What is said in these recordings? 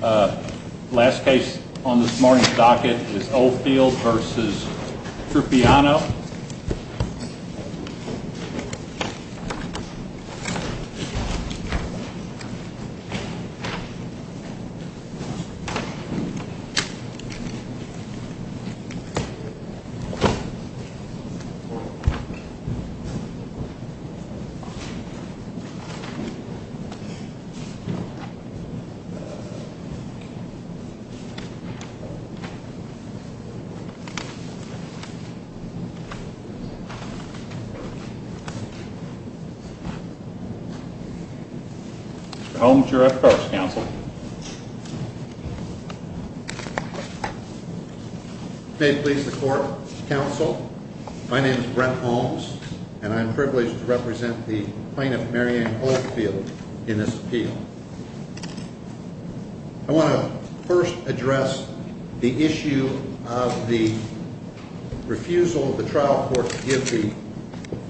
Last case on this morning's docket is Oldfield v. Trupiano Mr. Holmes, you're up first, counsel. May it please the court, counsel, my name is Brent Holmes, and I am privileged to represent the plaintiff, Mary Ann Oldfield, in this appeal. I want to first address the issue of the refusal of the trial court to give the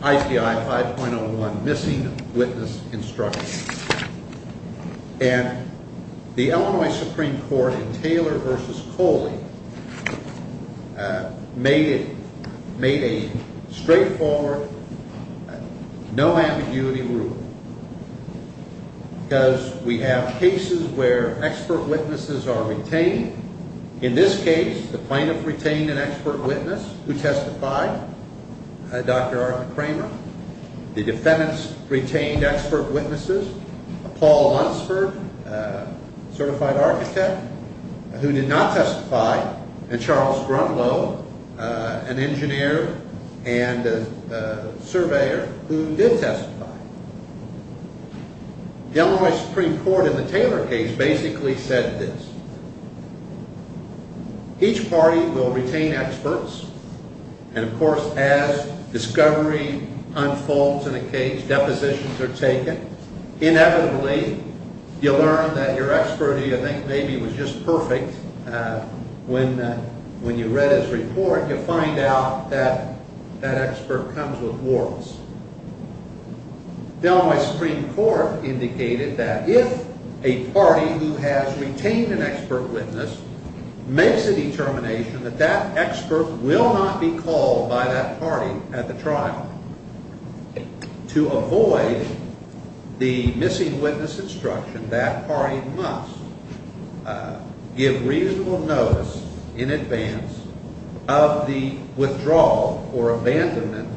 IPI 5.01 Missing Witness Instruction, and the Illinois Supreme Court in Taylor v. Coley made a straightforward, no ambiguity rule, because we have cases where expert witnesses are retained. In this case, the plaintiff retained an expert witness who testified, Dr. Arthur Kramer. The defendants retained expert witnesses, Paul Lunsford, certified architect, who did not testify, and Charles Grunlow, an engineer and a surveyor, who did testify. The Illinois Supreme Court in the Taylor case basically said this, each party will retain experts, and of course, as discovery unfolds in a case, depositions are taken, inevitably, you learn that your expert, who you think maybe was just perfect, when you read his report, you find out that that expert comes with warrants. The Illinois Supreme Court indicated that if a party who has retained an expert witness makes a determination that that expert will not be called by that party at the trial, to avoid the missing witness instruction, that party must give reasonable notice in advance of the withdrawal or abandonment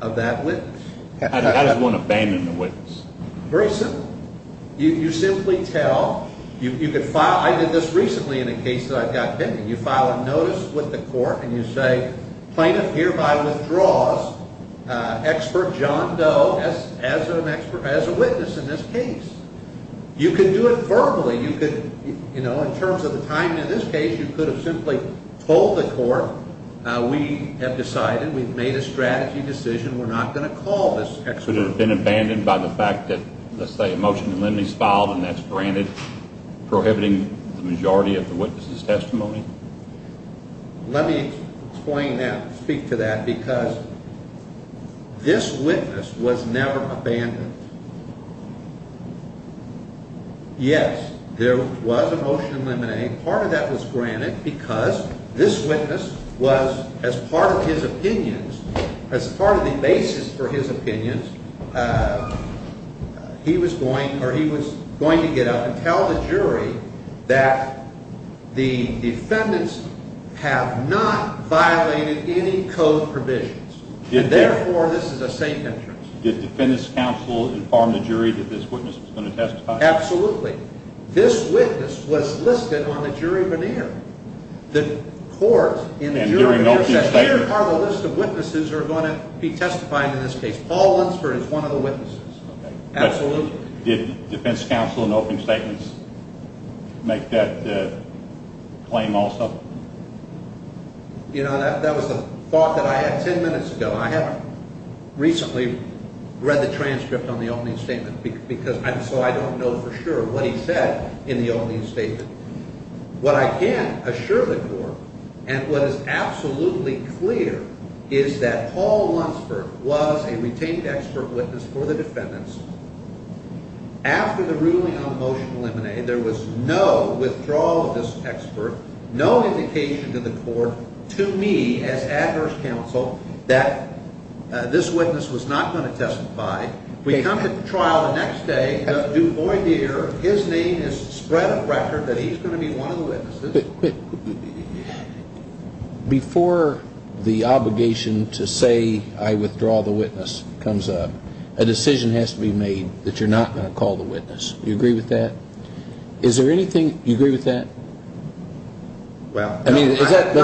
of that witness. How does one abandon the witness? Very simple. You simply tell, you could file, I did this recently in a case that I got bitten, you file a notice with the court and you say, plaintiff hereby withdraws expert John Doe as a witness in this case. You could do it verbally, you could, you know, in terms of the timing of this case, you could have simply told the court, we have decided, we've made a strategy decision, we're not going to call this expert. Could it have been abandoned by the fact that, let's say, a motion to limit is filed and that's granted, prohibiting the majority of the witness's testimony? Let me explain that, speak to that, because this witness was never abandoned. Yes, there was a motion to eliminate, part of that was granted because this witness was, as part of his opinions, as part of the basis for his opinions, he was going, or he was going to get up and tell the jury that the defendants have not violated any code provisions, and therefore this is a safe entrance. Did the defendant's counsel inform the jury that this witness was going to testify? Absolutely. This witness was listed on the jury veneer. The court in the jury veneer says, here are the list of witnesses who are going to be testifying in this case. Paul Lunsford is one of the witnesses. Absolutely. Did the defendant's counsel in the opening statements make that claim also? You know, that was the thought that I had ten minutes ago. I haven't recently read the transcript on the opening statement, so I don't know for sure what he said in the opening statement. What I can assure the court, and what is absolutely clear, is that Paul Lunsford was a retained expert witness for the defendants. After the ruling on the motion to eliminate, there was no withdrawal of this expert, no indication to the court, to me as adverse counsel, that this witness was not going to testify. We come to trial the next day. Du Bois Deer, his name is spread on record that he's going to be one of the witnesses. Before the obligation to say, I withdraw the witness, comes up, a decision has to be made that you're not going to call the witness. Do you agree with that? Is there anything, do you agree with that? Well. I mean, is that what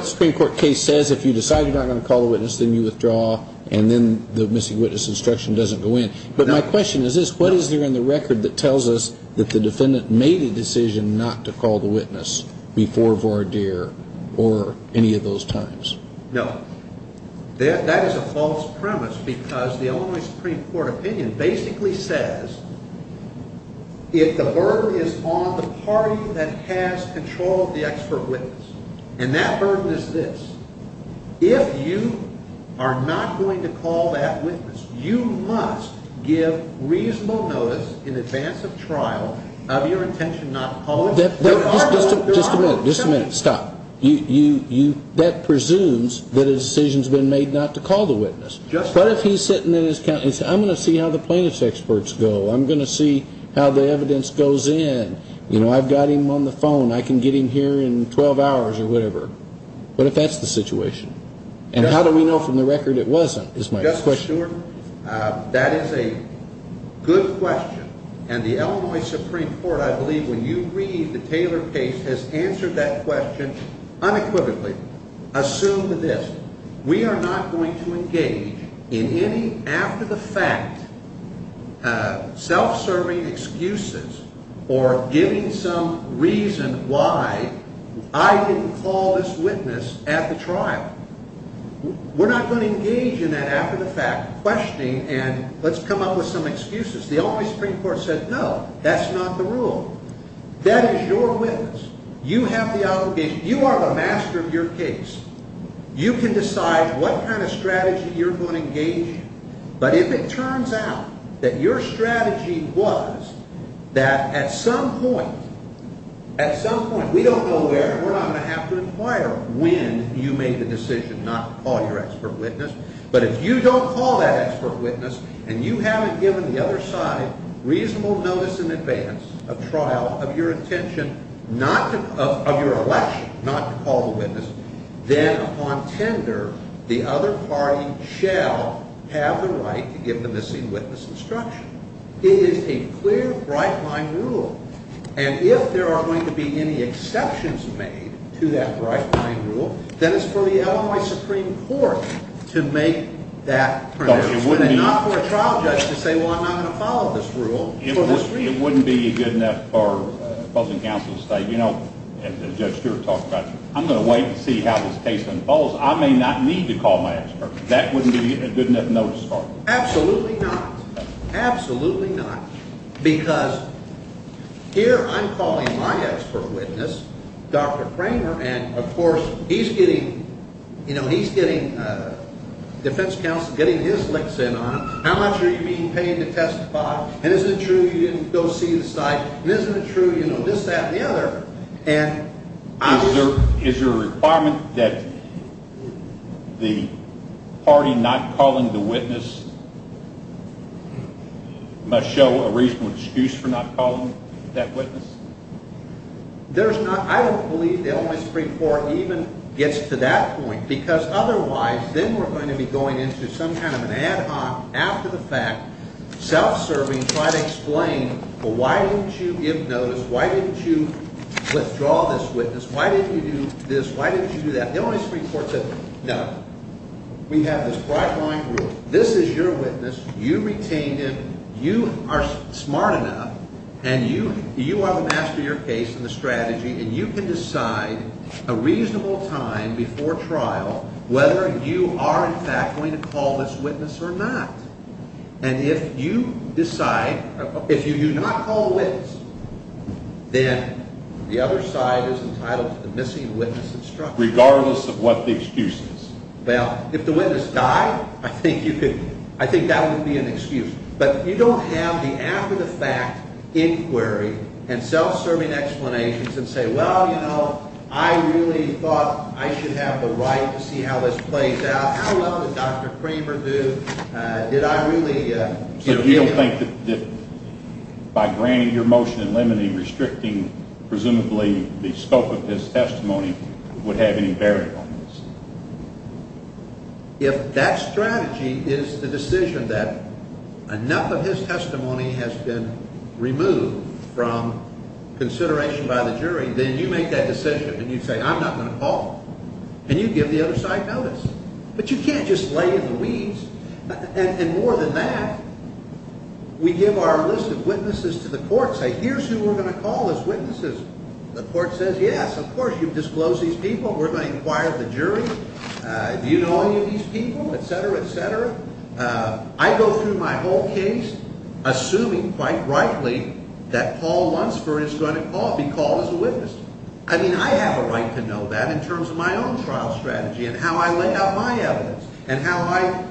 the Supreme Court case says? If you decide you're not going to call the witness, then you withdraw, and then the missing witness instruction doesn't go in. But my question is this. What is there in the record that tells us that the defendant made a decision not to call the witness before Vardeer or any of those times? No. That is a false premise because the Illinois Supreme Court opinion basically says if the burden is on the party that has control of the expert witness, and that burden is this. If you are not going to call that witness, you must give reasonable notice in advance of trial of your intention not to call it. Just a minute. Just a minute. Stop. That presumes that a decision has been made not to call the witness. But if he's sitting in his countenance, I'm going to see how the plaintiff's experts go. I'm going to see how the evidence goes in. You know, I've got him on the phone. I can get him here in 12 hours or whatever. What if that's the situation? And how do we know from the record it wasn't is my question. Justice Stewart, that is a good question. And the Illinois Supreme Court, I believe when you read the Taylor case, has answered that question unequivocally. Assume this. We are not going to engage in any after-the-fact self-serving excuses or giving some reason why I didn't call this witness at the trial. We're not going to engage in that after-the-fact questioning and let's come up with some excuses. The Illinois Supreme Court said no, that's not the rule. That is your witness. You have the obligation. You are the master of your case. You can decide what kind of strategy you're going to engage in. But if it turns out that your strategy was that at some point, at some point, we don't know where and we're not going to have to inquire when you made the decision not to call your expert witness. But if you don't call that expert witness and you haven't given the other side reasonable notice in advance of trial of your intention, of your election, not to call the witness, then upon tender, the other party shall have the right to give the missing witness instruction. It is a clear, bright-line rule. And if there are going to be any exceptions made to that bright-line rule, then it's for the Illinois Supreme Court to make that preference. Not for a trial judge to say, well, I'm not going to follow this rule for this reason. It wouldn't be good enough for opposing counsel to say, you know, as Judge Stewart talked about, I'm going to wait and see how this case unfolds. I may not need to call my expert. That wouldn't be a good enough notice for me. Absolutely not. Absolutely not. Because here I'm calling my expert witness, Dr. Kramer, and, of course, he's getting defense counsel getting his licks in on it. How much are you being paid to testify? And isn't it true you didn't go see the site? And isn't it true you know this, that, and the other? And I would – Is there a requirement that the party not calling the witness must show a reasonable excuse for not calling that witness? There's not – I don't believe the Illinois Supreme Court even gets to that point because otherwise then we're going to be going into some kind of an ad hoc, after the fact, self-serving try to explain, well, why didn't you give notice? Why didn't you withdraw this witness? Why didn't you do this? Why didn't you do that? The Illinois Supreme Court said, no. We have this broad line rule. This is your witness. You retained him. You are smart enough, and you are the master of your case and the strategy, and you can decide a reasonable time before trial whether you are, in fact, going to call this witness or not. And if you decide – if you do not call the witness, then the other side is entitled to the missing witness instruction. Regardless of what the excuse is? Well, if the witness died, I think you could – I think that would be an excuse. But you don't have the after-the-fact inquiry and self-serving explanations and say, well, you know, I really thought I should have the right to see how this plays out. How well did Dr. Kramer do? Did I really – So you don't think that by granting your motion and limiting, restricting, presumably, the scope of this testimony would have any bearing on this? If that strategy is the decision that enough of his testimony has been removed from consideration by the jury, then you make that decision and you say, I'm not going to call. And you give the other side notice. But you can't just lay in the weeds. And more than that, we give our list of witnesses to the court and say, here's who we're going to call as witnesses. The court says, yes, of course, you've disclosed these people. We're going to inquire the jury. Do you know any of these people, et cetera, et cetera? I go through my whole case assuming, quite rightly, that Paul Lunsford is going to be called as a witness. I mean, I have a right to know that in terms of my own trial strategy and how I lay out my evidence and how I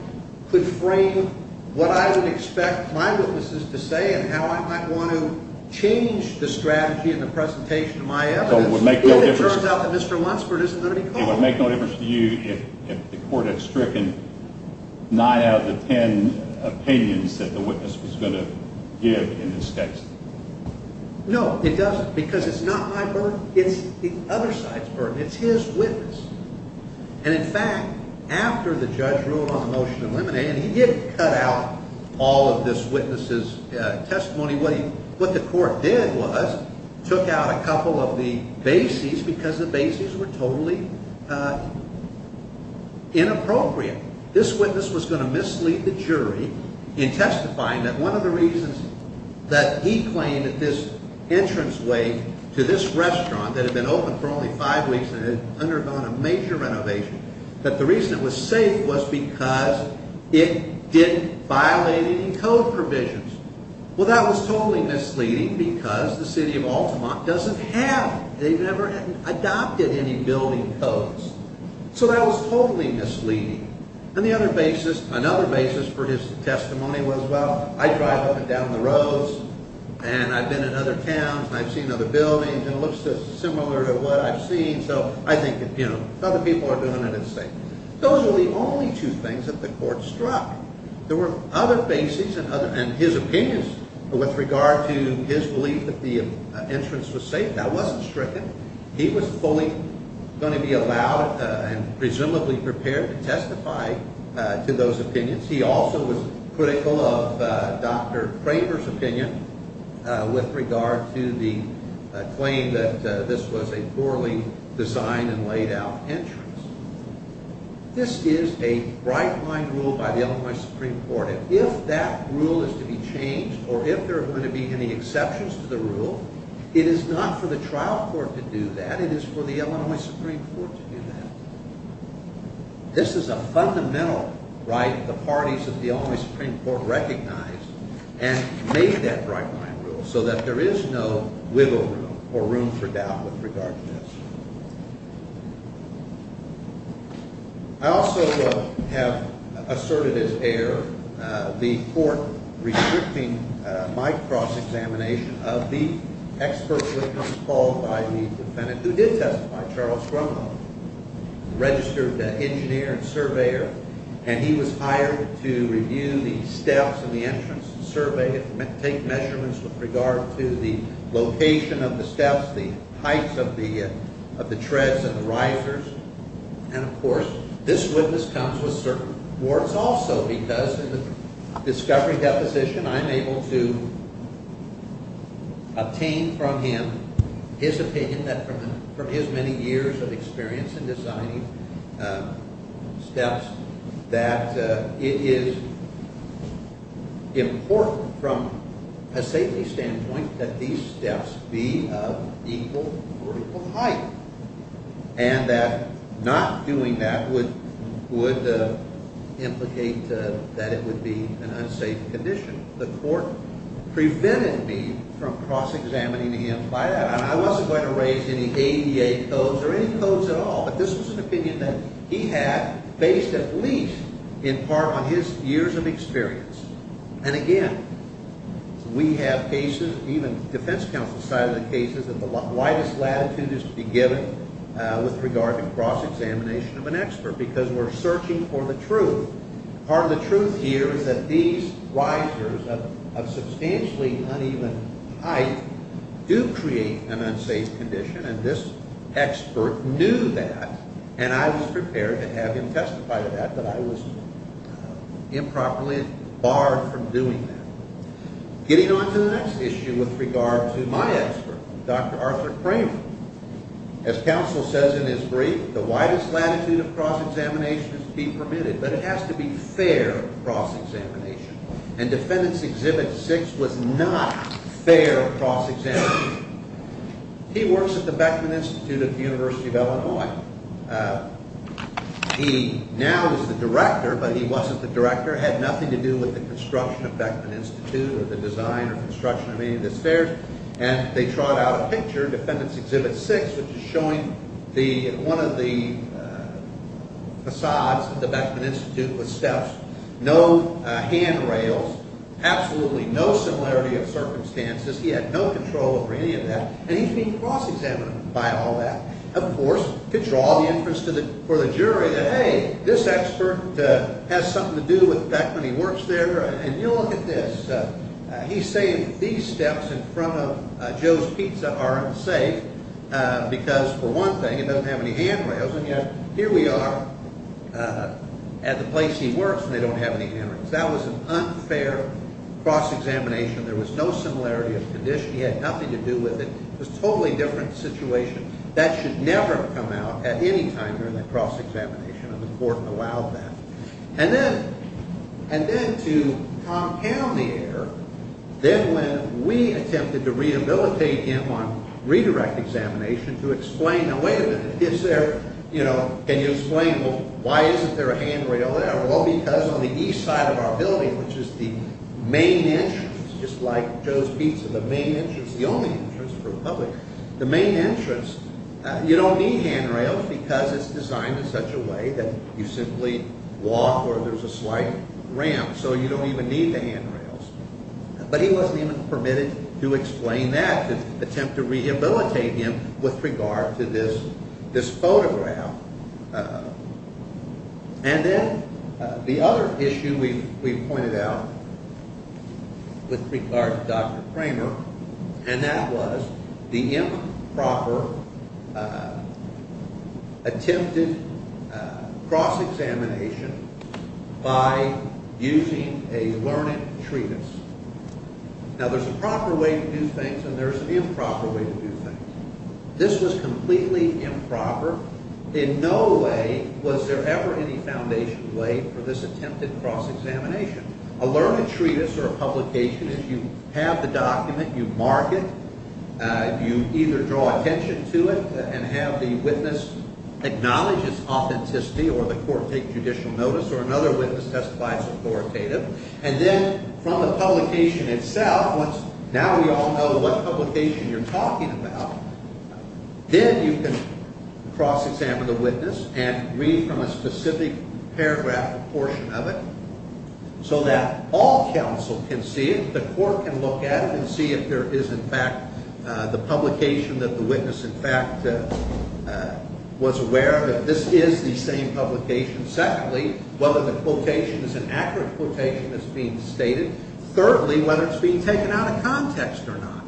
could frame what I would expect my witnesses to say and how I might want to change the strategy and the presentation of my evidence if it turns out that Mr. Lunsford isn't going to be called. It would make no difference to you if the court had stricken nine out of the ten opinions that the witness was going to give in this case? No, it doesn't, because it's not my burden. It's the other side's burden. It's his witness. And, in fact, after the judge wrote on the motion of limine and he did cut out all of this witness's testimony, what the court did was took out a couple of the bases because the bases were totally inappropriate. This witness was going to mislead the jury in testifying that one of the reasons that he claimed that this entranceway to this restaurant that had been open for only five weeks and had undergone a major renovation, that the reason it was safe was because it didn't violate any code provisions. Well, that was totally misleading because the city of Altamont doesn't have, they've never adopted any building codes. So that was totally misleading. And the other basis, another basis for his testimony was, well, I drive up and down the roads and I've been in other towns and I've seen other buildings and it looks similar to what I've seen, so I think if other people are doing it, it's safe. Those are the only two things that the court struck. There were other bases and his opinions with regard to his belief that the entrance was safe. That wasn't stricken. He was fully going to be allowed and presumably prepared to testify to those opinions. He also was critical of Dr. Kramer's opinion with regard to the claim that this was a poorly designed and laid out entrance. This is a bright line rule by the Illinois Supreme Court. If that rule is to be changed or if there are going to be any exceptions to the rule, it is not for the trial court to do that. It is for the Illinois Supreme Court to do that. This is a fundamental right the parties of the Illinois Supreme Court recognize and make that bright line rule so that there is no wiggle room or room for doubt with regard to this. I also have asserted as heir the court restricting my cross-examination of the expert witness called by the defendant, who did testify, Charles Cromwell, registered engineer and surveyor. He was hired to review the steps in the entrance, survey, take measurements with regard to the location of the steps, the heights of the treads and the risers. Of course, this witness comes with certain rewards also because in the discovery deposition, I'm able to obtain from him his opinion that from his many years of experience in designing steps, that it is important from a safety standpoint that these steps be of equal or equal height and that not doing that would implicate that it would be an unsafe condition. The court prevented me from cross-examining him by that. I wasn't going to raise any ADA codes or any codes at all, but this was an opinion that he had based at least in part on his years of experience. And again, we have cases, even defense counsel cited cases, that the widest latitude is to be given with regard to cross-examination of an expert because we're searching for the truth. Part of the truth here is that these risers of substantially uneven height do create an unsafe condition, and this expert knew that, and I was prepared to have him testify to that, but I was improperly barred from doing that. Getting on to the next issue with regard to my expert, Dr. Arthur Cramer. As counsel says in his brief, the widest latitude of cross-examination is to be permitted, but it has to be fair cross-examination, and Defendant's Exhibit 6 was not fair cross-examination. He works at the Beckman Institute of the University of Illinois. He now is the director, but he wasn't the director, had nothing to do with the construction of Beckman Institute or the design or construction of any of the stairs, and they trot out a picture, Defendant's Exhibit 6, which is showing one of the facades of the Beckman Institute with steps, no handrails, absolutely no similarity of circumstances. He had no control over any of that, and he's being cross-examined by all that. Of course, could draw the interest for the jury that, hey, this expert has something to do with Beckman. He works there, and you look at this. He's saying these steps in front of Joe's Pizza aren't safe because, for one thing, it doesn't have any handrails, and yet here we are at the place he works, and they don't have any handrails. That was an unfair cross-examination. There was no similarity of condition. He had nothing to do with it. It was a totally different situation. That should never have come out at any time during that cross-examination, and the court allowed that. And then to compound the error, then when we attempted to rehabilitate him on redirect examination to explain, now, wait a minute, it's there. Can you explain, well, why isn't there a handrail there? Well, because on the east side of our building, which is the main entrance, just like Joe's Pizza, the main entrance, the only entrance for the public, the main entrance, you don't need handrails because it's designed in such a way that you simply walk or there's a slight ramp, so you don't even need the handrails. But he wasn't even permitted to explain that, to attempt to rehabilitate him with regard to this photograph. And then the other issue we pointed out with regard to Dr. Cramer, and that was the improper attempted cross-examination by using a learned treatise. Now, there's a proper way to do things, and there's an improper way to do things. This was completely improper. In no way was there ever any foundation laid for this attempted cross-examination. A learned treatise or a publication, if you have the document, you mark it, you either draw attention to it and have the witness acknowledge its authenticity or the court take judicial notice or another witness testifies authoritative. And then from the publication itself, once now we all know what publication you're talking about, then you can cross-examine the witness and read from a specific paragraph or portion of it so that all counsel can see it, the court can look at it and see if there is in fact the publication that the witness in fact was aware of, that this is the same publication. Secondly, whether the quotation is an accurate quotation that's being stated. Thirdly, whether it's being taken out of context or not.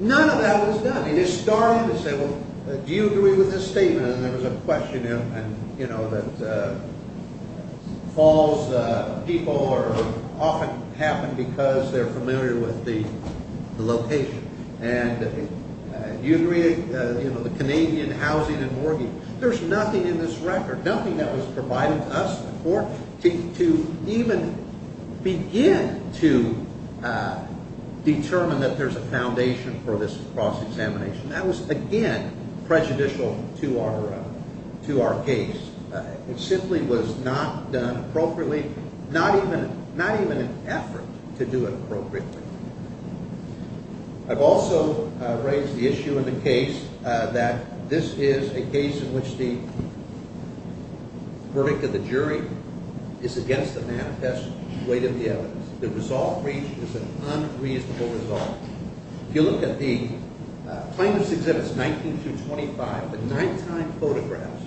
None of that was done. It is starting to say, well, do you agree with this statement? And there was a question, you know, that falls people often happen because they're familiar with the location. And do you agree, you know, the Canadian housing and mortgage, there's nothing in this record, nothing that was provided to us before to even begin to determine that there's a foundation for this cross-examination. That was, again, prejudicial to our case. It simply was not done appropriately, not even an effort to do it appropriately. I've also raised the issue in the case that this is a case in which the verdict of the jury is against the manifest weight of the evidence. The resolved breach is an unreasonable resolve. If you look at the plaintiffs' exhibits 19 through 25, the nine-time photographs,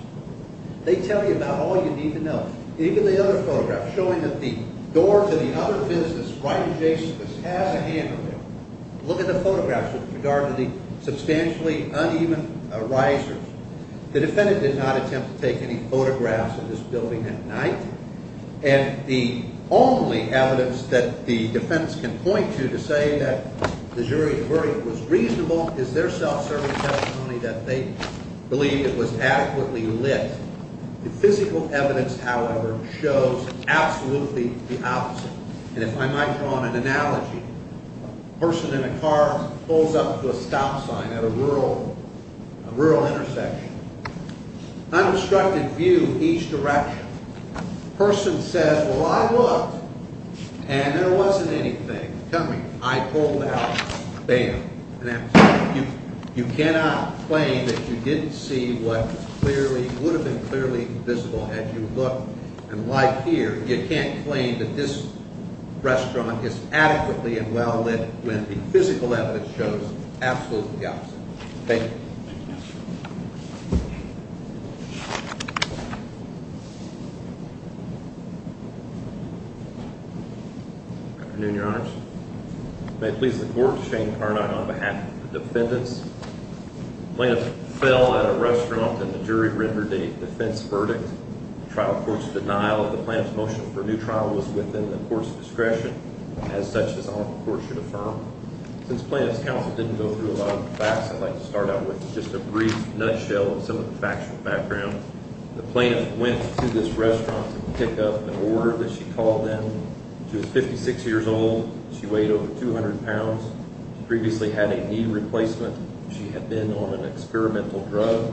they tell you about all you need to know. Even the other photographs showing that the door to the other business right adjacent to this has a handle there. Look at the photographs with regard to the substantially uneven risers. The defendant did not attempt to take any photographs of this building at night. And the only evidence that the defendants can point to to say that the jury's verdict was reasonable is their self-serving testimony that they believe it was adequately lit. The physical evidence, however, shows absolutely the opposite. And if I might draw an analogy, a person in a car pulls up to a stop sign at a rural intersection, unobstructed view each direction. The person says, well, I looked, and there wasn't anything. Tell me, I pulled out, bam. You cannot claim that you didn't see what would have been clearly visible had you looked. And like here, you can't claim that this restaurant is adequately and well lit when the physical evidence shows absolutely the opposite. Thank you. Afternoon, Your Honors. May it please the Court, Shane Carnot on behalf of the defendants. The plaintiff fell at a restaurant and the jury rendered a defense verdict. The trial court's denial of the plaintiff's motion for a new trial was within the court's discretion. As such, this awful court should affirm. Since plaintiff's counsel didn't go through a lot of the facts, I'd like to start out with just a brief nutshell of some of the facts from the background. The plaintiff went to this restaurant to pick up an order that she called them. She was 56 years old. She weighed over 200 pounds. She previously had a knee replacement. She had been on an experimental drug.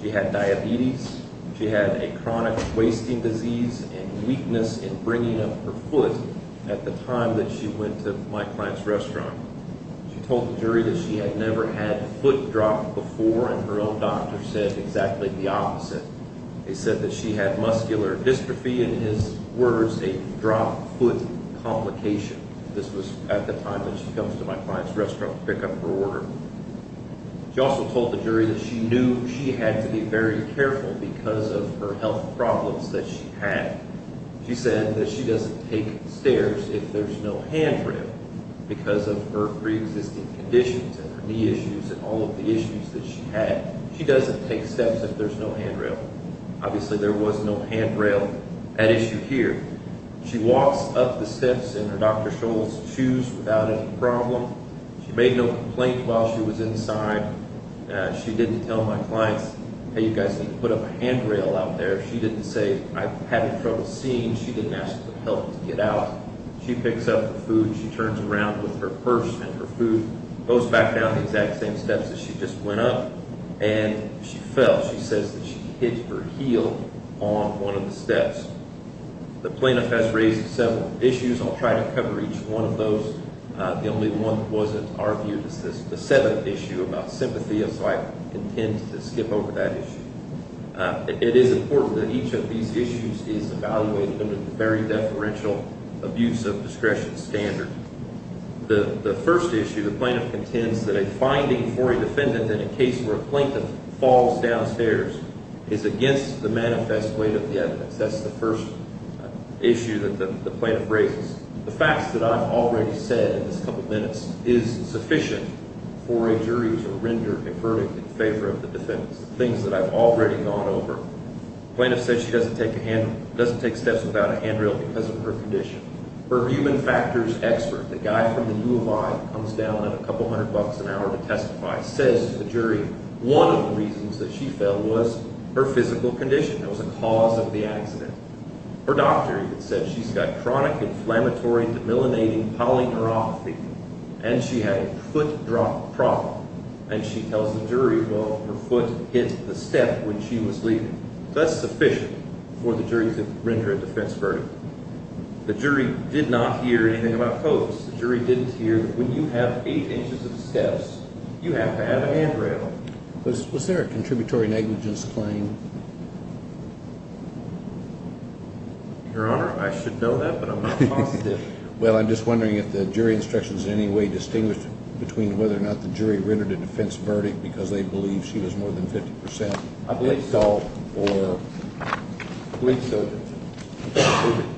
She had diabetes. She had a chronic wasting disease and weakness in bringing up her foot at the time that she went to my client's restaurant. She told the jury that she had never had a foot drop before, and her own doctor said exactly the opposite. They said that she had muscular dystrophy, in his words, a drop foot complication. This was at the time that she comes to my client's restaurant to pick up her order. She also told the jury that she knew she had to be very careful because of her health problems that she had. She said that she doesn't take stairs if there's no handrail because of her preexisting conditions and her knee issues and all of the issues that she had. She doesn't take steps if there's no handrail. Obviously, there was no handrail at issue here. She walks up the steps in her Dr. Scholl's shoes without any problem. She made no complaints while she was inside. She didn't tell my clients, hey, you guys need to put up a handrail out there. She didn't say, I'm having trouble seeing. She didn't ask for help to get out. She picks up the food. She turns around with her purse and her food, goes back down the exact same steps that she just went up, and she fell. She says that she hit her heel on one of the steps. The plaintiff has raised several issues. I'll try to cover each one of those. The only one that wasn't argued is the seventh issue about sympathy, and so I intend to skip over that issue. It is important that each of these issues is evaluated under the very deferential abuse of discretion standard. The first issue, the plaintiff contends that a finding for a defendant in a case where a plaintiff falls downstairs is against the manifest weight of the evidence. That's the first issue that the plaintiff raises. The facts that I've already said in this couple minutes is sufficient for a jury to render a verdict in favor of the defendant. The things that I've already gone over. The plaintiff says she doesn't take steps without a handrail because of her condition. Her human factors expert, the guy from the U of I that comes down at a couple hundred bucks an hour to testify, says to the jury one of the reasons that she fell was her physical condition. That was a cause of the accident. Her doctor even said she's got chronic inflammatory demyelinating polyneuropathy, and she had a foot drop problem, and she tells the jury, well, her foot hit the step when she was leaving. So that's sufficient for the jury to render a defense verdict. The jury did not hear anything about post. The jury didn't hear that when you have eight inches of steps, you have to have a handrail. Was there a contributory negligence claim? Your Honor, I should know that, but I'm not positive. Well, I'm just wondering if the jury instructions in any way distinguished between whether or not the jury rendered a defense verdict because they believe she was more than 50% installed or with children.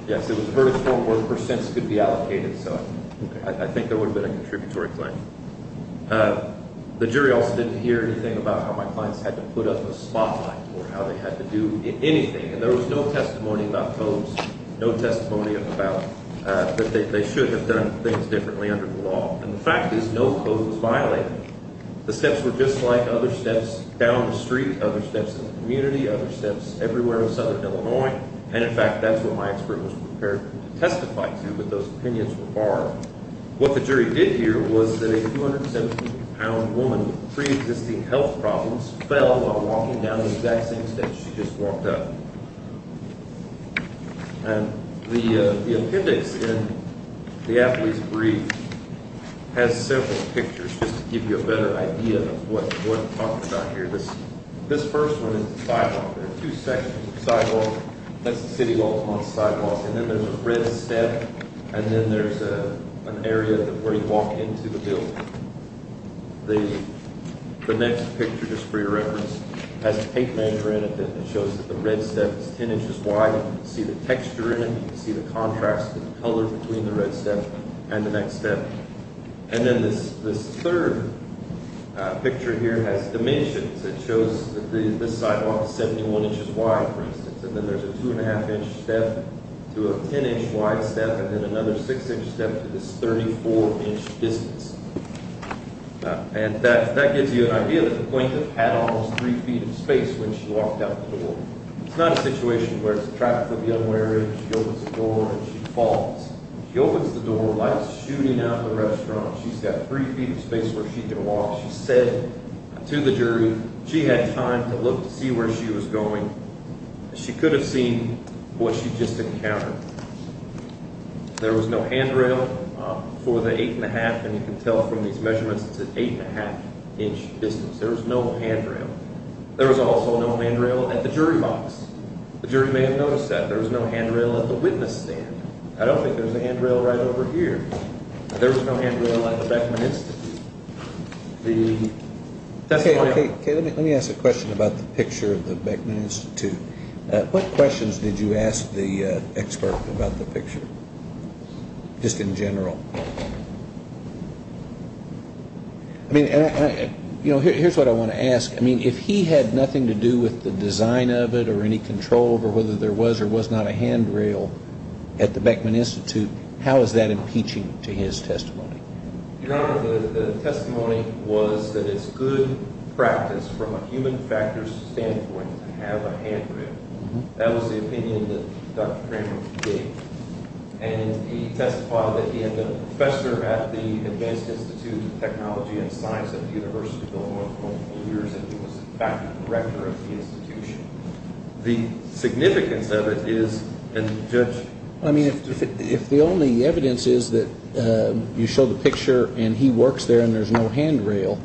Yes, it was a verdict form where percents could be allocated. So I think there would have been a contributory claim. The jury also didn't hear anything about how my clients had to put up a spotlight or how they had to do anything, and there was no testimony about post, no testimony about that they should have done things differently under the law. And the fact is no post was violated. The steps were just like other steps down the street, other steps in the community, other steps everywhere in Southern Illinois. And, in fact, that's what my expert was prepared to testify to, but those opinions were barred. What the jury did hear was that a 217-pound woman with preexisting health problems fell while walking down the exact same steps she just walked up. And the appendix in the athlete's brief has several pictures just to give you a better idea of what I'm talking about here. This first one is the sidewalk. There are two sections of sidewalk. That's the City of Baltimore's sidewalk, and then there's a red step, and then there's an area where you walk into the building. The next picture, just for your reference, has a tape measure in it that shows that the red step is 10 inches wide. You can see the texture in it. You can see the contrast of the color between the red step and the next step. And then this third picture here has dimensions. It shows that this sidewalk is 71 inches wide, for instance, and then there's a 2-1⁄2-inch step to a 10-inch wide step, and then another 6-inch step to this 34-inch distance. And that gives you an idea that the plaintiff had almost 3 feet of space when she walked out the door. It's not a situation where it's a traffic of the unwary, and she opens the door, and she falls. She opens the door, lights shooting out in the restaurant. She's got 3 feet of space where she can walk. She said to the jury she had time to look to see where she was going. She could have seen what she just encountered. There was no handrail for the 8-1⁄2, and you can tell from these measurements, it's an 8-1⁄2-inch distance. There was no handrail. There was also no handrail at the jury box. The jury may have noticed that. There was no handrail at the witness stand. I don't think there's a handrail right over here. There was no handrail at the Beckman Institute. Okay, let me ask a question about the picture of the Beckman Institute. What questions did you ask the expert about the picture, just in general? Here's what I want to ask. If he had nothing to do with the design of it or any control over whether there was or was not a handrail at the Beckman Institute, how is that impeaching to his testimony? Your Honor, the testimony was that it's good practice from a human factors standpoint to have a handrail. That was the opinion that Dr. Kramer gave, and he testified that he had been a professor at the Advanced Institute of Technology and Science at the University of Illinois for four years and he was in fact the director of the institution. The significance of it is, and Judge? I mean, if the only evidence is that you show the picture and he works there and there's no handrail,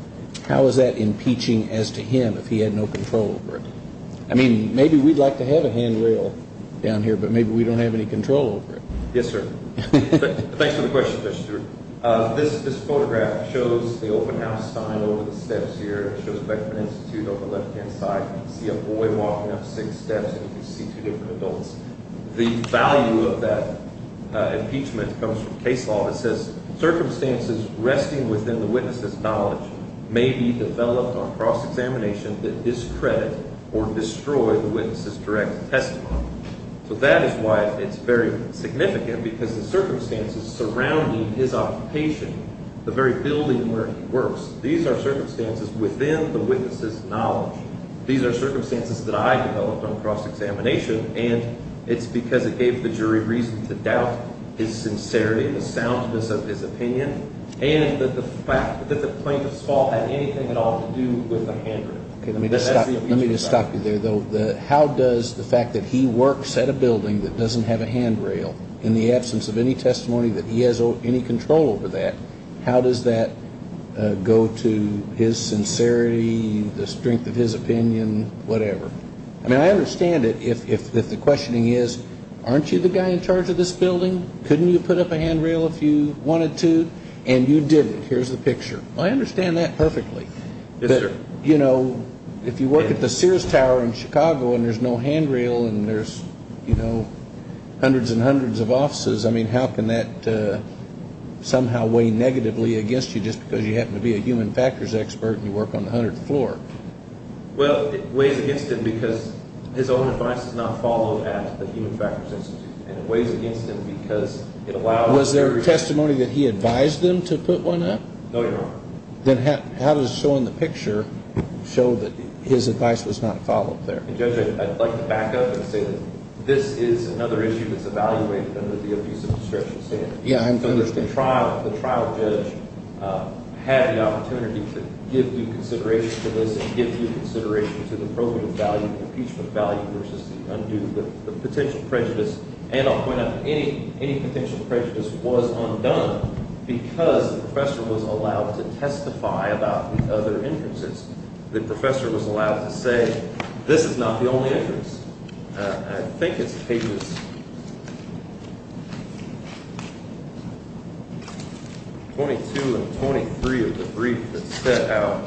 how is that impeaching as to him if he had no control over it? I mean, maybe we'd like to have a handrail down here, but maybe we don't have any control over it. Yes, sir. Thanks for the question, Judge Stewart. This photograph shows the open house sign over the steps here. It shows Beckman Institute on the left-hand side. You can see a boy walking up six steps and you can see two different adults. The value of that impeachment comes from case law that says, Circumstances resting within the witness's knowledge may be developed on cross-examination that discredit or destroy the witness's direct testimony. So that is why it's very significant because the circumstances surrounding his occupation, the very building where he works, these are circumstances within the witness's knowledge. These are circumstances that I developed on cross-examination, and it's because it gave the jury reason to doubt his sincerity, the soundness of his opinion, and that the plaintiff's fault had anything at all to do with the handrail. Let me just stop you there, though. How does the fact that he works at a building that doesn't have a handrail, in the absence of any testimony that he has any control over that, how does that go to his sincerity, the strength of his opinion, whatever? I mean, I understand it if the questioning is, aren't you the guy in charge of this building? Couldn't you put up a handrail if you wanted to? And you didn't. Here's the picture. I understand that perfectly. Yes, sir. You know, if you work at the Sears Tower in Chicago and there's no handrail and there's, you know, hundreds and hundreds of offices, I mean, how can that somehow weigh negatively against you just because you happen to be a human factors expert and you work on the 100th floor? Well, it weighs against him because his own advice is not followed at the Human Factors Institute, and it weighs against him because it allows everybody. Was there testimony that he advised them to put one up? No, Your Honor. Then how does showing the picture show that his advice was not followed there? And, Judge, I'd like to back up and say that this is another issue that's evaluated under the abuse of discretion standard. Yeah, I understand. I think the trial judge had the opportunity to give due consideration to this and give due consideration to the probative value, the impeachment value versus the undue, the potential prejudice. And I'll point out, any potential prejudice was undone because the professor was allowed to testify about the other entrances. The professor was allowed to say, this is not the only entrance. I think it's pages 22 and 23 of the brief that set out.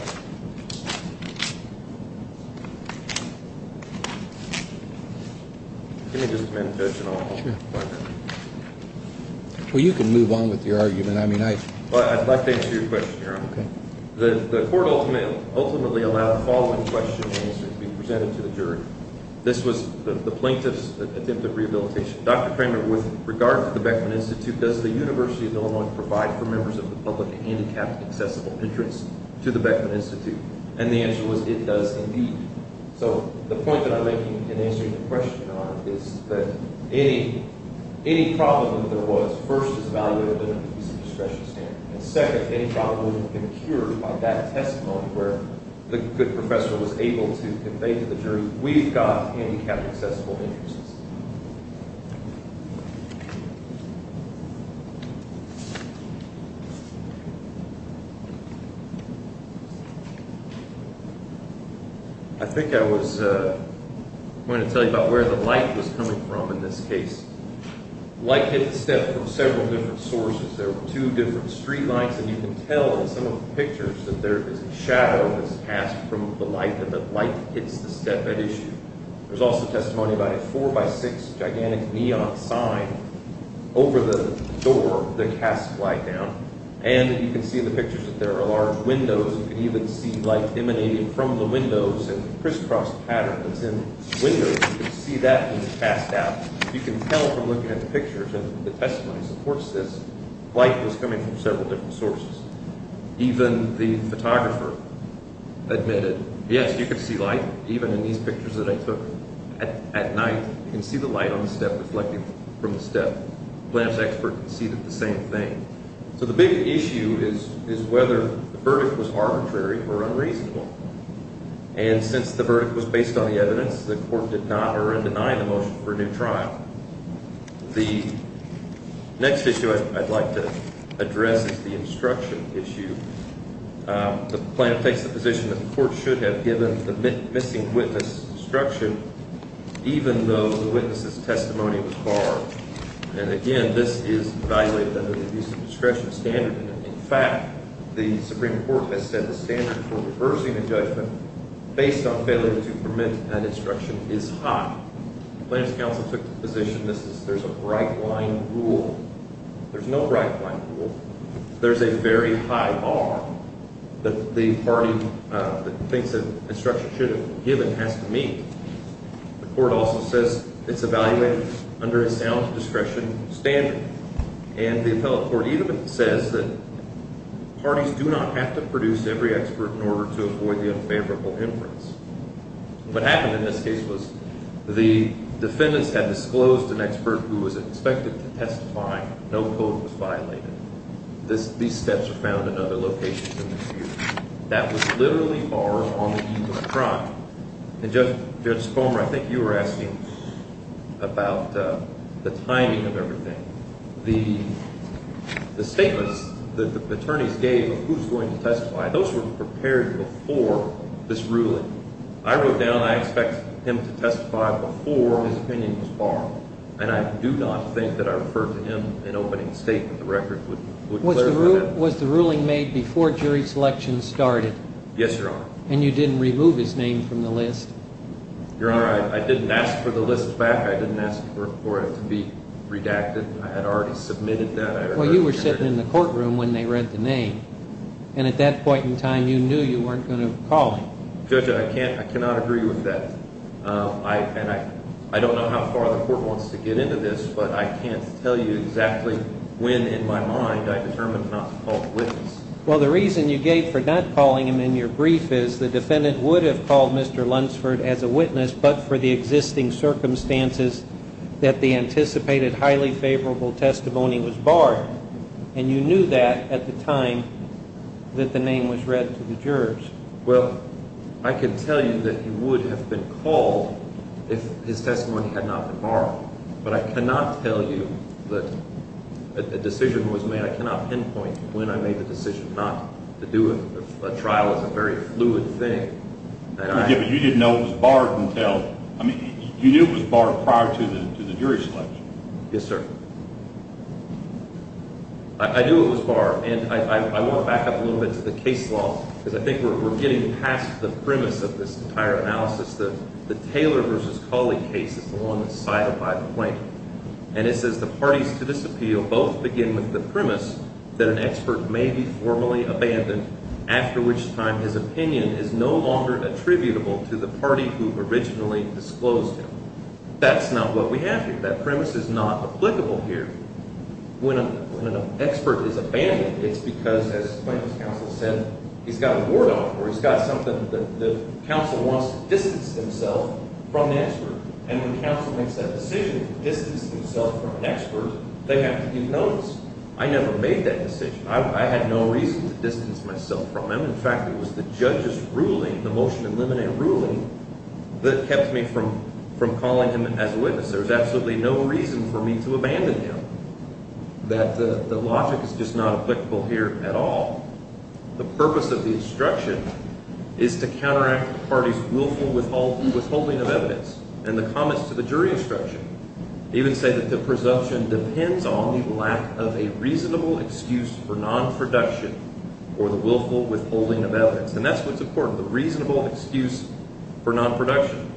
Well, you can move on with your argument. I'd like to answer your question, Your Honor. The court ultimately allowed the following question to be presented to the jury. This was the plaintiff's attempt at rehabilitation. Dr. Kramer, with regard to the Beckman Institute, does the University of Illinois provide for members of the public a handicapped accessible entrance to the Beckman Institute? And the answer was, it does indeed. So the point that I'm making in answering your question, Your Honor, is that any problem that there was, first, is evaluated under the abuse of discretion standard. And second, any problem that was incurred by that testimony where the good professor was able to convey to the jury, we've got handicapped accessible entrances. I think I was going to tell you about where the light was coming from in this case. Light hit the step from several different sources. There were two different street lights. And you can tell in some of the pictures that there is a shadow that's passed from the light and the light hits the step at issue. There's also testimony about a four-by-six gigantic neon sign over the door that casts light down. And you can see in the pictures that there are large windows. You can even see light emanating from the windows in a crisscross pattern that's in windows. You can see that being passed out. You can tell from looking at the pictures, and the testimony supports this, light was coming from several different sources. Even the photographer admitted, yes, you could see light, even in these pictures that I took. At night, you can see the light on the step reflecting from the step. The lamp's expert conceded the same thing. So the big issue is whether the verdict was arbitrary or unreasonable. And since the verdict was based on the evidence, the court did not err in denying the motion for a new trial. The next issue I'd like to address is the instruction issue. The plaintiff takes the position that the court should have given the missing witness instruction, even though the witness's testimony was barred. And, again, this is evaluated under the abuse of discretion standard. In fact, the Supreme Court has said the standard for reversing a judgment based on failure to permit an instruction is high. The plaintiff's counsel took the position there's a right-line rule. There's no right-line rule. There's a very high bar that the party that thinks an instruction should have been given has to meet. The court also says it's evaluated under a sound discretion standard. And the appellate court even says that parties do not have to produce every expert in order to avoid the unfavorable inference. What happened in this case was the defendants had disclosed an expert who was expected to testify. No code was violated. These steps are found in other locations in this case. That was literally barred on the eve of the crime. And, Judge Fulmer, I think you were asking about the timing of everything. The statements that the attorneys gave of who's going to testify, those were prepared before this ruling. I wrote down I expect him to testify before his opinion was barred. And I do not think that I referred to him in opening statement. The record would clarify that. Was the ruling made before jury selection started? Yes, Your Honor. And you didn't remove his name from the list? Your Honor, I didn't ask for the list back. I didn't ask for it to be redacted. I had already submitted that. Well, you were sitting in the courtroom when they read the name. And at that point in time, you knew you weren't going to call him. Judge, I cannot agree with that. And I don't know how far the court wants to get into this, but I can't tell you exactly when in my mind I determined not to call the witness. Well, the reason you gave for not calling him in your brief is the defendant would have called Mr. Lunsford as a witness, but for the existing circumstances that the anticipated highly favorable testimony was barred. And you knew that at the time that the name was read to the jurors. Well, I can tell you that he would have been called if his testimony had not been barred. But I cannot tell you that a decision was made. I cannot pinpoint when I made the decision not to do it. A trial is a very fluid thing. But you didn't know it was barred until – I mean, you knew it was barred prior to the jury selection. Yes, sir. I knew it was barred. And I want to back up a little bit to the case law because I think we're getting past the premise of this entire analysis. The Taylor v. Colley case is the one that's cited by the plaintiff. And it says the parties to this appeal both begin with the premise that an expert may be formally abandoned, after which time his opinion is no longer attributable to the party who originally disclosed him. That's not what we have here. That premise is not applicable here. When an expert is abandoned, it's because, as the plaintiff's counsel said, he's got a warrant on him or he's got something that the counsel wants to distance himself from the expert. And when counsel makes that decision to distance himself from an expert, they have to give notice. I never made that decision. I had no reason to distance myself from him. In fact, it was the judge's ruling, the motion in limine ruling, that kept me from calling him as a witness. There was absolutely no reason for me to abandon him. The logic is just not applicable here at all. The purpose of the instruction is to counteract the party's willful withholding of evidence. And the comments to the jury instruction even say that the presumption depends on the lack of a reasonable excuse for non-production or the willful withholding of evidence. And that's what's important, the reasonable excuse for non-production.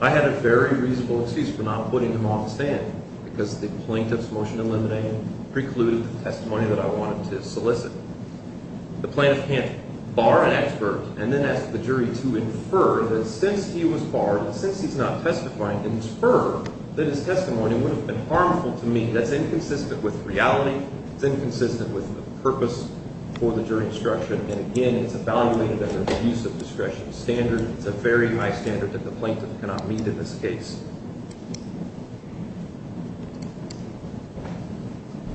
I had a very reasonable excuse for not putting him on the stand because the plaintiff's motion in limine precluded the testimony that I wanted to solicit. The plaintiff can't bar an expert and then ask the jury to infer that since he was barred, since he's not testifying, infer that his testimony would have been harmful to me. That's inconsistent with reality. It's inconsistent with the purpose for the jury instruction. And again, it's evaluated under the use of discretion standard. It's a very high standard that the plaintiff cannot meet in this case.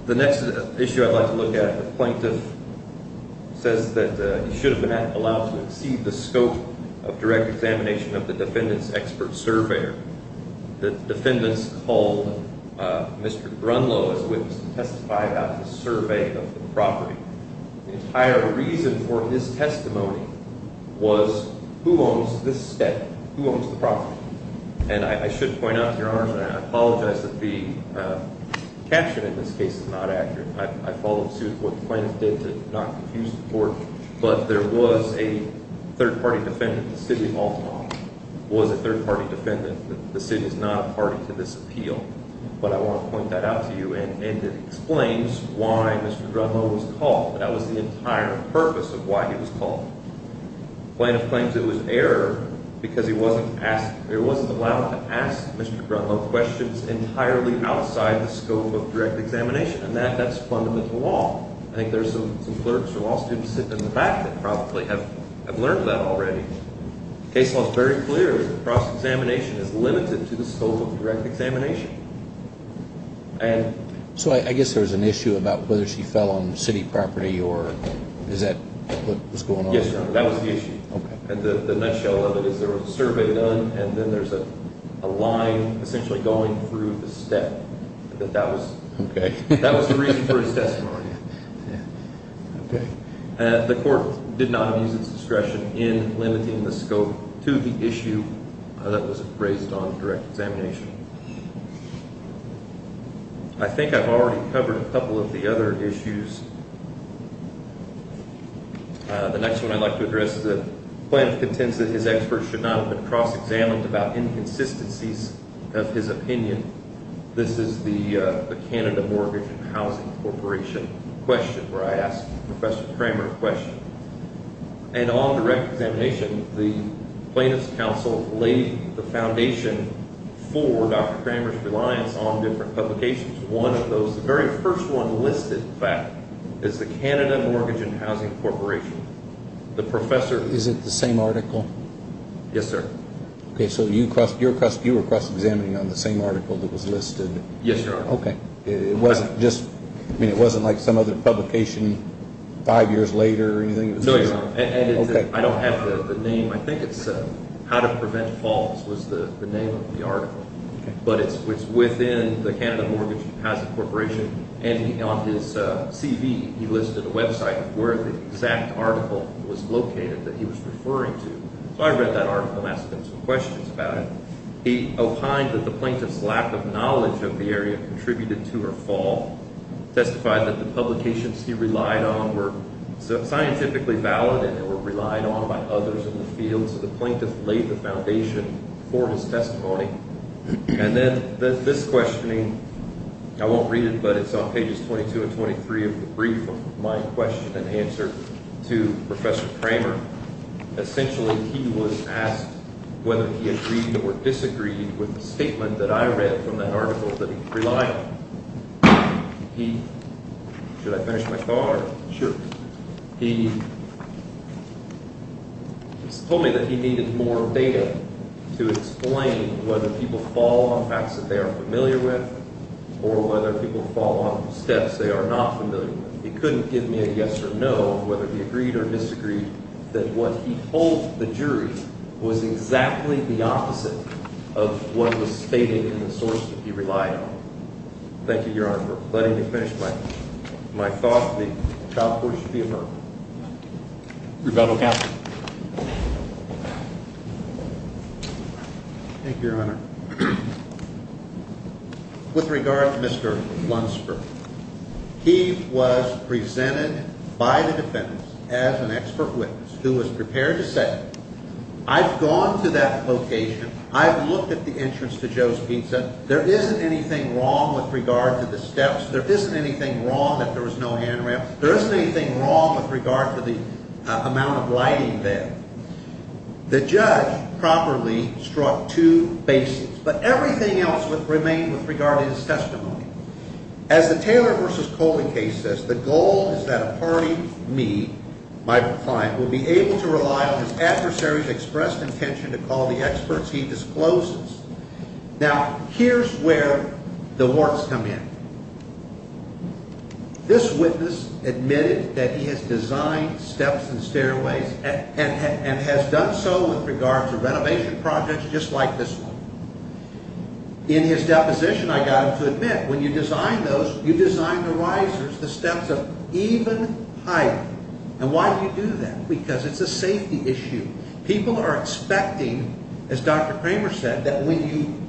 The next issue I'd like to look at, the plaintiff says that he should have been allowed to exceed the scope of direct examination of the defendant's expert surveyor. The defendant's called Mr. Grunlow as a witness to testify about the survey of the property. The entire reason for his testimony was who owns this estate? Who owns the property? And I should point out, Your Honor, and I apologize that the caption in this case is not accurate. I followed suit with what the plaintiff did to not confuse the court, but there was a third-party defendant. The city of Baltimore was a third-party defendant. The city is not a party to this appeal. But I want to point that out to you, and it explains why Mr. Grunlow was called. That was the entire purpose of why he was called. The plaintiff claims it was error because he wasn't allowed to ask Mr. Grunlow questions entirely outside the scope of direct examination, and that's fundamental to law. I think there's some clerks or law students sitting in the back that probably have learned that already. The case law is very clear that cross-examination is limited to the scope of direct examination. So I guess there was an issue about whether she fell on the city property, or is that what was going on? Yes, Your Honor, that was the issue. The nutshell of it is there was a survey done, and then there's a line essentially going through the step. That was the reason for his testimony. The court did not use its discretion in limiting the scope to the issue that was raised on direct examination. I think I've already covered a couple of the other issues. The next one I'd like to address is that the plaintiff contends that his experts should not have been cross-examined about inconsistencies of his opinion. This is the Canada Mortgage and Housing Corporation question, where I asked Professor Cramer a question. And on direct examination, the Plaintiff's Council laid the foundation for Dr. Cramer's reliance on different publications. One of those, the very first one listed, in fact, is the Canada Mortgage and Housing Corporation. Is it the same article? Yes, sir. Okay, so you were cross-examining on the same article that was listed? Yes, Your Honor. Okay. It wasn't like some other publication five years later or anything? No, Your Honor. Okay. I don't have the name. I think it's How to Prevent Faults was the name of the article. But it's within the Canada Mortgage and Housing Corporation. And on his CV, he listed a website where the exact article was located that he was referring to. So I read that article and asked him some questions about it. He opined that the Plaintiff's lack of knowledge of the area contributed to her fall. Testified that the publications he relied on were scientifically valid and were relied on by others in the field. So the Plaintiff laid the foundation for his testimony. And then this questioning, I won't read it, but it's on pages 22 and 23 of the brief of my question and answer to Professor Cramer. Essentially, he was asked whether he agreed or disagreed with the statement that I read from that article that he relied on. Should I finish my card? Sure. He told me that he needed more data to explain whether people fall on facts that they are familiar with or whether people fall on steps they are not familiar with. He couldn't give me a yes or no, whether he agreed or disagreed, that what he told the jury was exactly the opposite of what was stated in the source that he relied on. Thank you, Your Honor, for letting me finish my thought. The trial court should be affirmed. Rebuttal, counsel. Thank you, Your Honor. With regard to Mr. Lunsford, he was presented by the defendants as an expert witness who was prepared to say, I've gone to that location. I've looked at the entrance to Joe's Pizza. There isn't anything wrong with regard to the steps. There isn't anything wrong that there was no handrail. There isn't anything wrong with regard to the amount of lighting there. The judge properly struck two bases, but everything else remained with regard to his testimony. As the Taylor v. Coley case says, the goal is that a party, me, my client, will be able to rely on his adversary's expressed intention to call the experts he discloses. Now, here's where the warts come in. This witness admitted that he has designed steps and stairways and has done so with regard to renovation projects just like this one. In his deposition, I got him to admit, when you design those, you design the risers, the steps of even height. And why do you do that? Because it's a safety issue. People are expecting, as Dr. Kramer said, that when you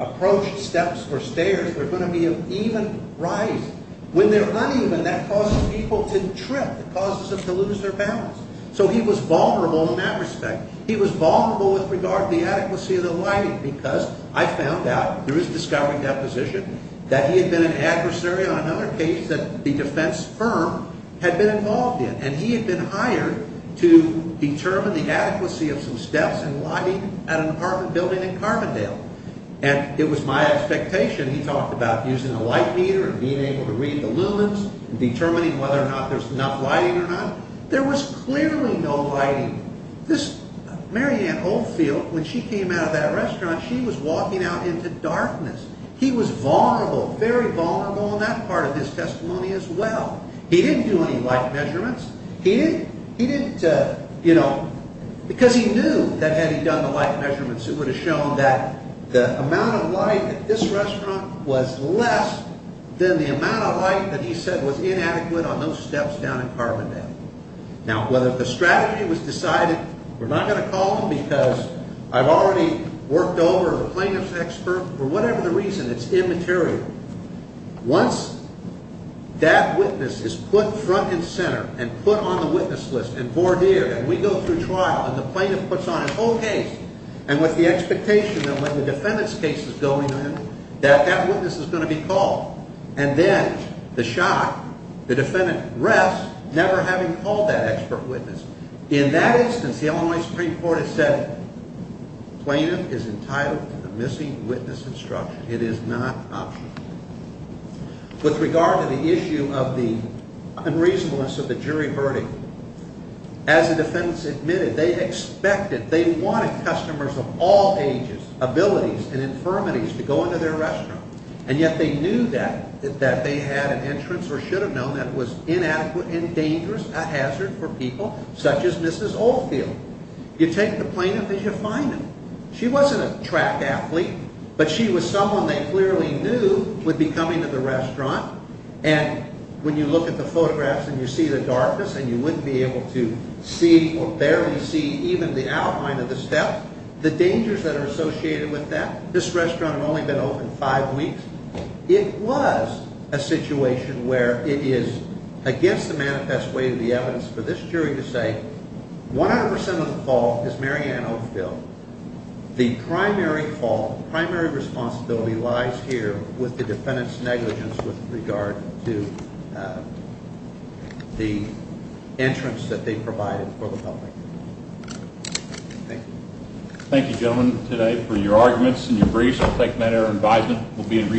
approach steps or stairs, there's going to be an even rise. When they're uneven, that causes people to trip. It causes them to lose their balance. So he was vulnerable in that respect. He was vulnerable with regard to the adequacy of the lighting because I found out, through his discovery deposition, that he had been an adversary on another case that the defense firm had been involved in. And he had been hired to determine the adequacy of some steps and lighting at an apartment building in Carbondale. And it was my expectation, he talked about using a light meter and being able to read the lumens and determining whether or not there's enough lighting or not. There was clearly no lighting. This Mary Ann Oldfield, when she came out of that restaurant, she was walking out into darkness. He was vulnerable, very vulnerable, on that part of his testimony as well. He didn't do any light measurements. He didn't, you know, because he knew that had he done the light measurements, it would have shown that the amount of light at this restaurant was less than the amount of light that he said was inadequate on those steps down in Carbondale. Now, whether the strategy was decided, we're not going to call him because I've already worked over a plaintiff's expert. For whatever the reason, it's immaterial. Once that witness is put front and center and put on the witness list and boardeered and we go through trial and the plaintiff puts on his whole case and with the expectation that when the defendant's case is going in that that witness is going to be called and then the shock, the defendant rests never having called that expert witness. In that instance, the Illinois Supreme Court has said, it is not optional. With regard to the issue of the unreasonableness of the jury verdict, as the defendants admitted, they expected, they wanted customers of all ages, abilities, and infirmities to go into their restaurant, and yet they knew that they had an entrance or should have known that was inadequate and dangerous, a hazard for people such as Mrs. Oldfield. You take the plaintiff and you find them. She wasn't a track athlete, but she was someone they clearly knew would be coming to the restaurant, and when you look at the photographs and you see the darkness and you wouldn't be able to see or barely see even the outline of the step, the dangers that are associated with that, this restaurant had only been open five weeks. It was a situation where it is against the manifest way of the evidence for this jury to say, 100% of the fault is Mary Ann Oldfield. The primary fault, primary responsibility lies here with the defendant's negligence with regard to the entrance that they provided for the public. Thank you. Thank you, gentlemen, today for your arguments and your briefs. We'll take them at our advisement.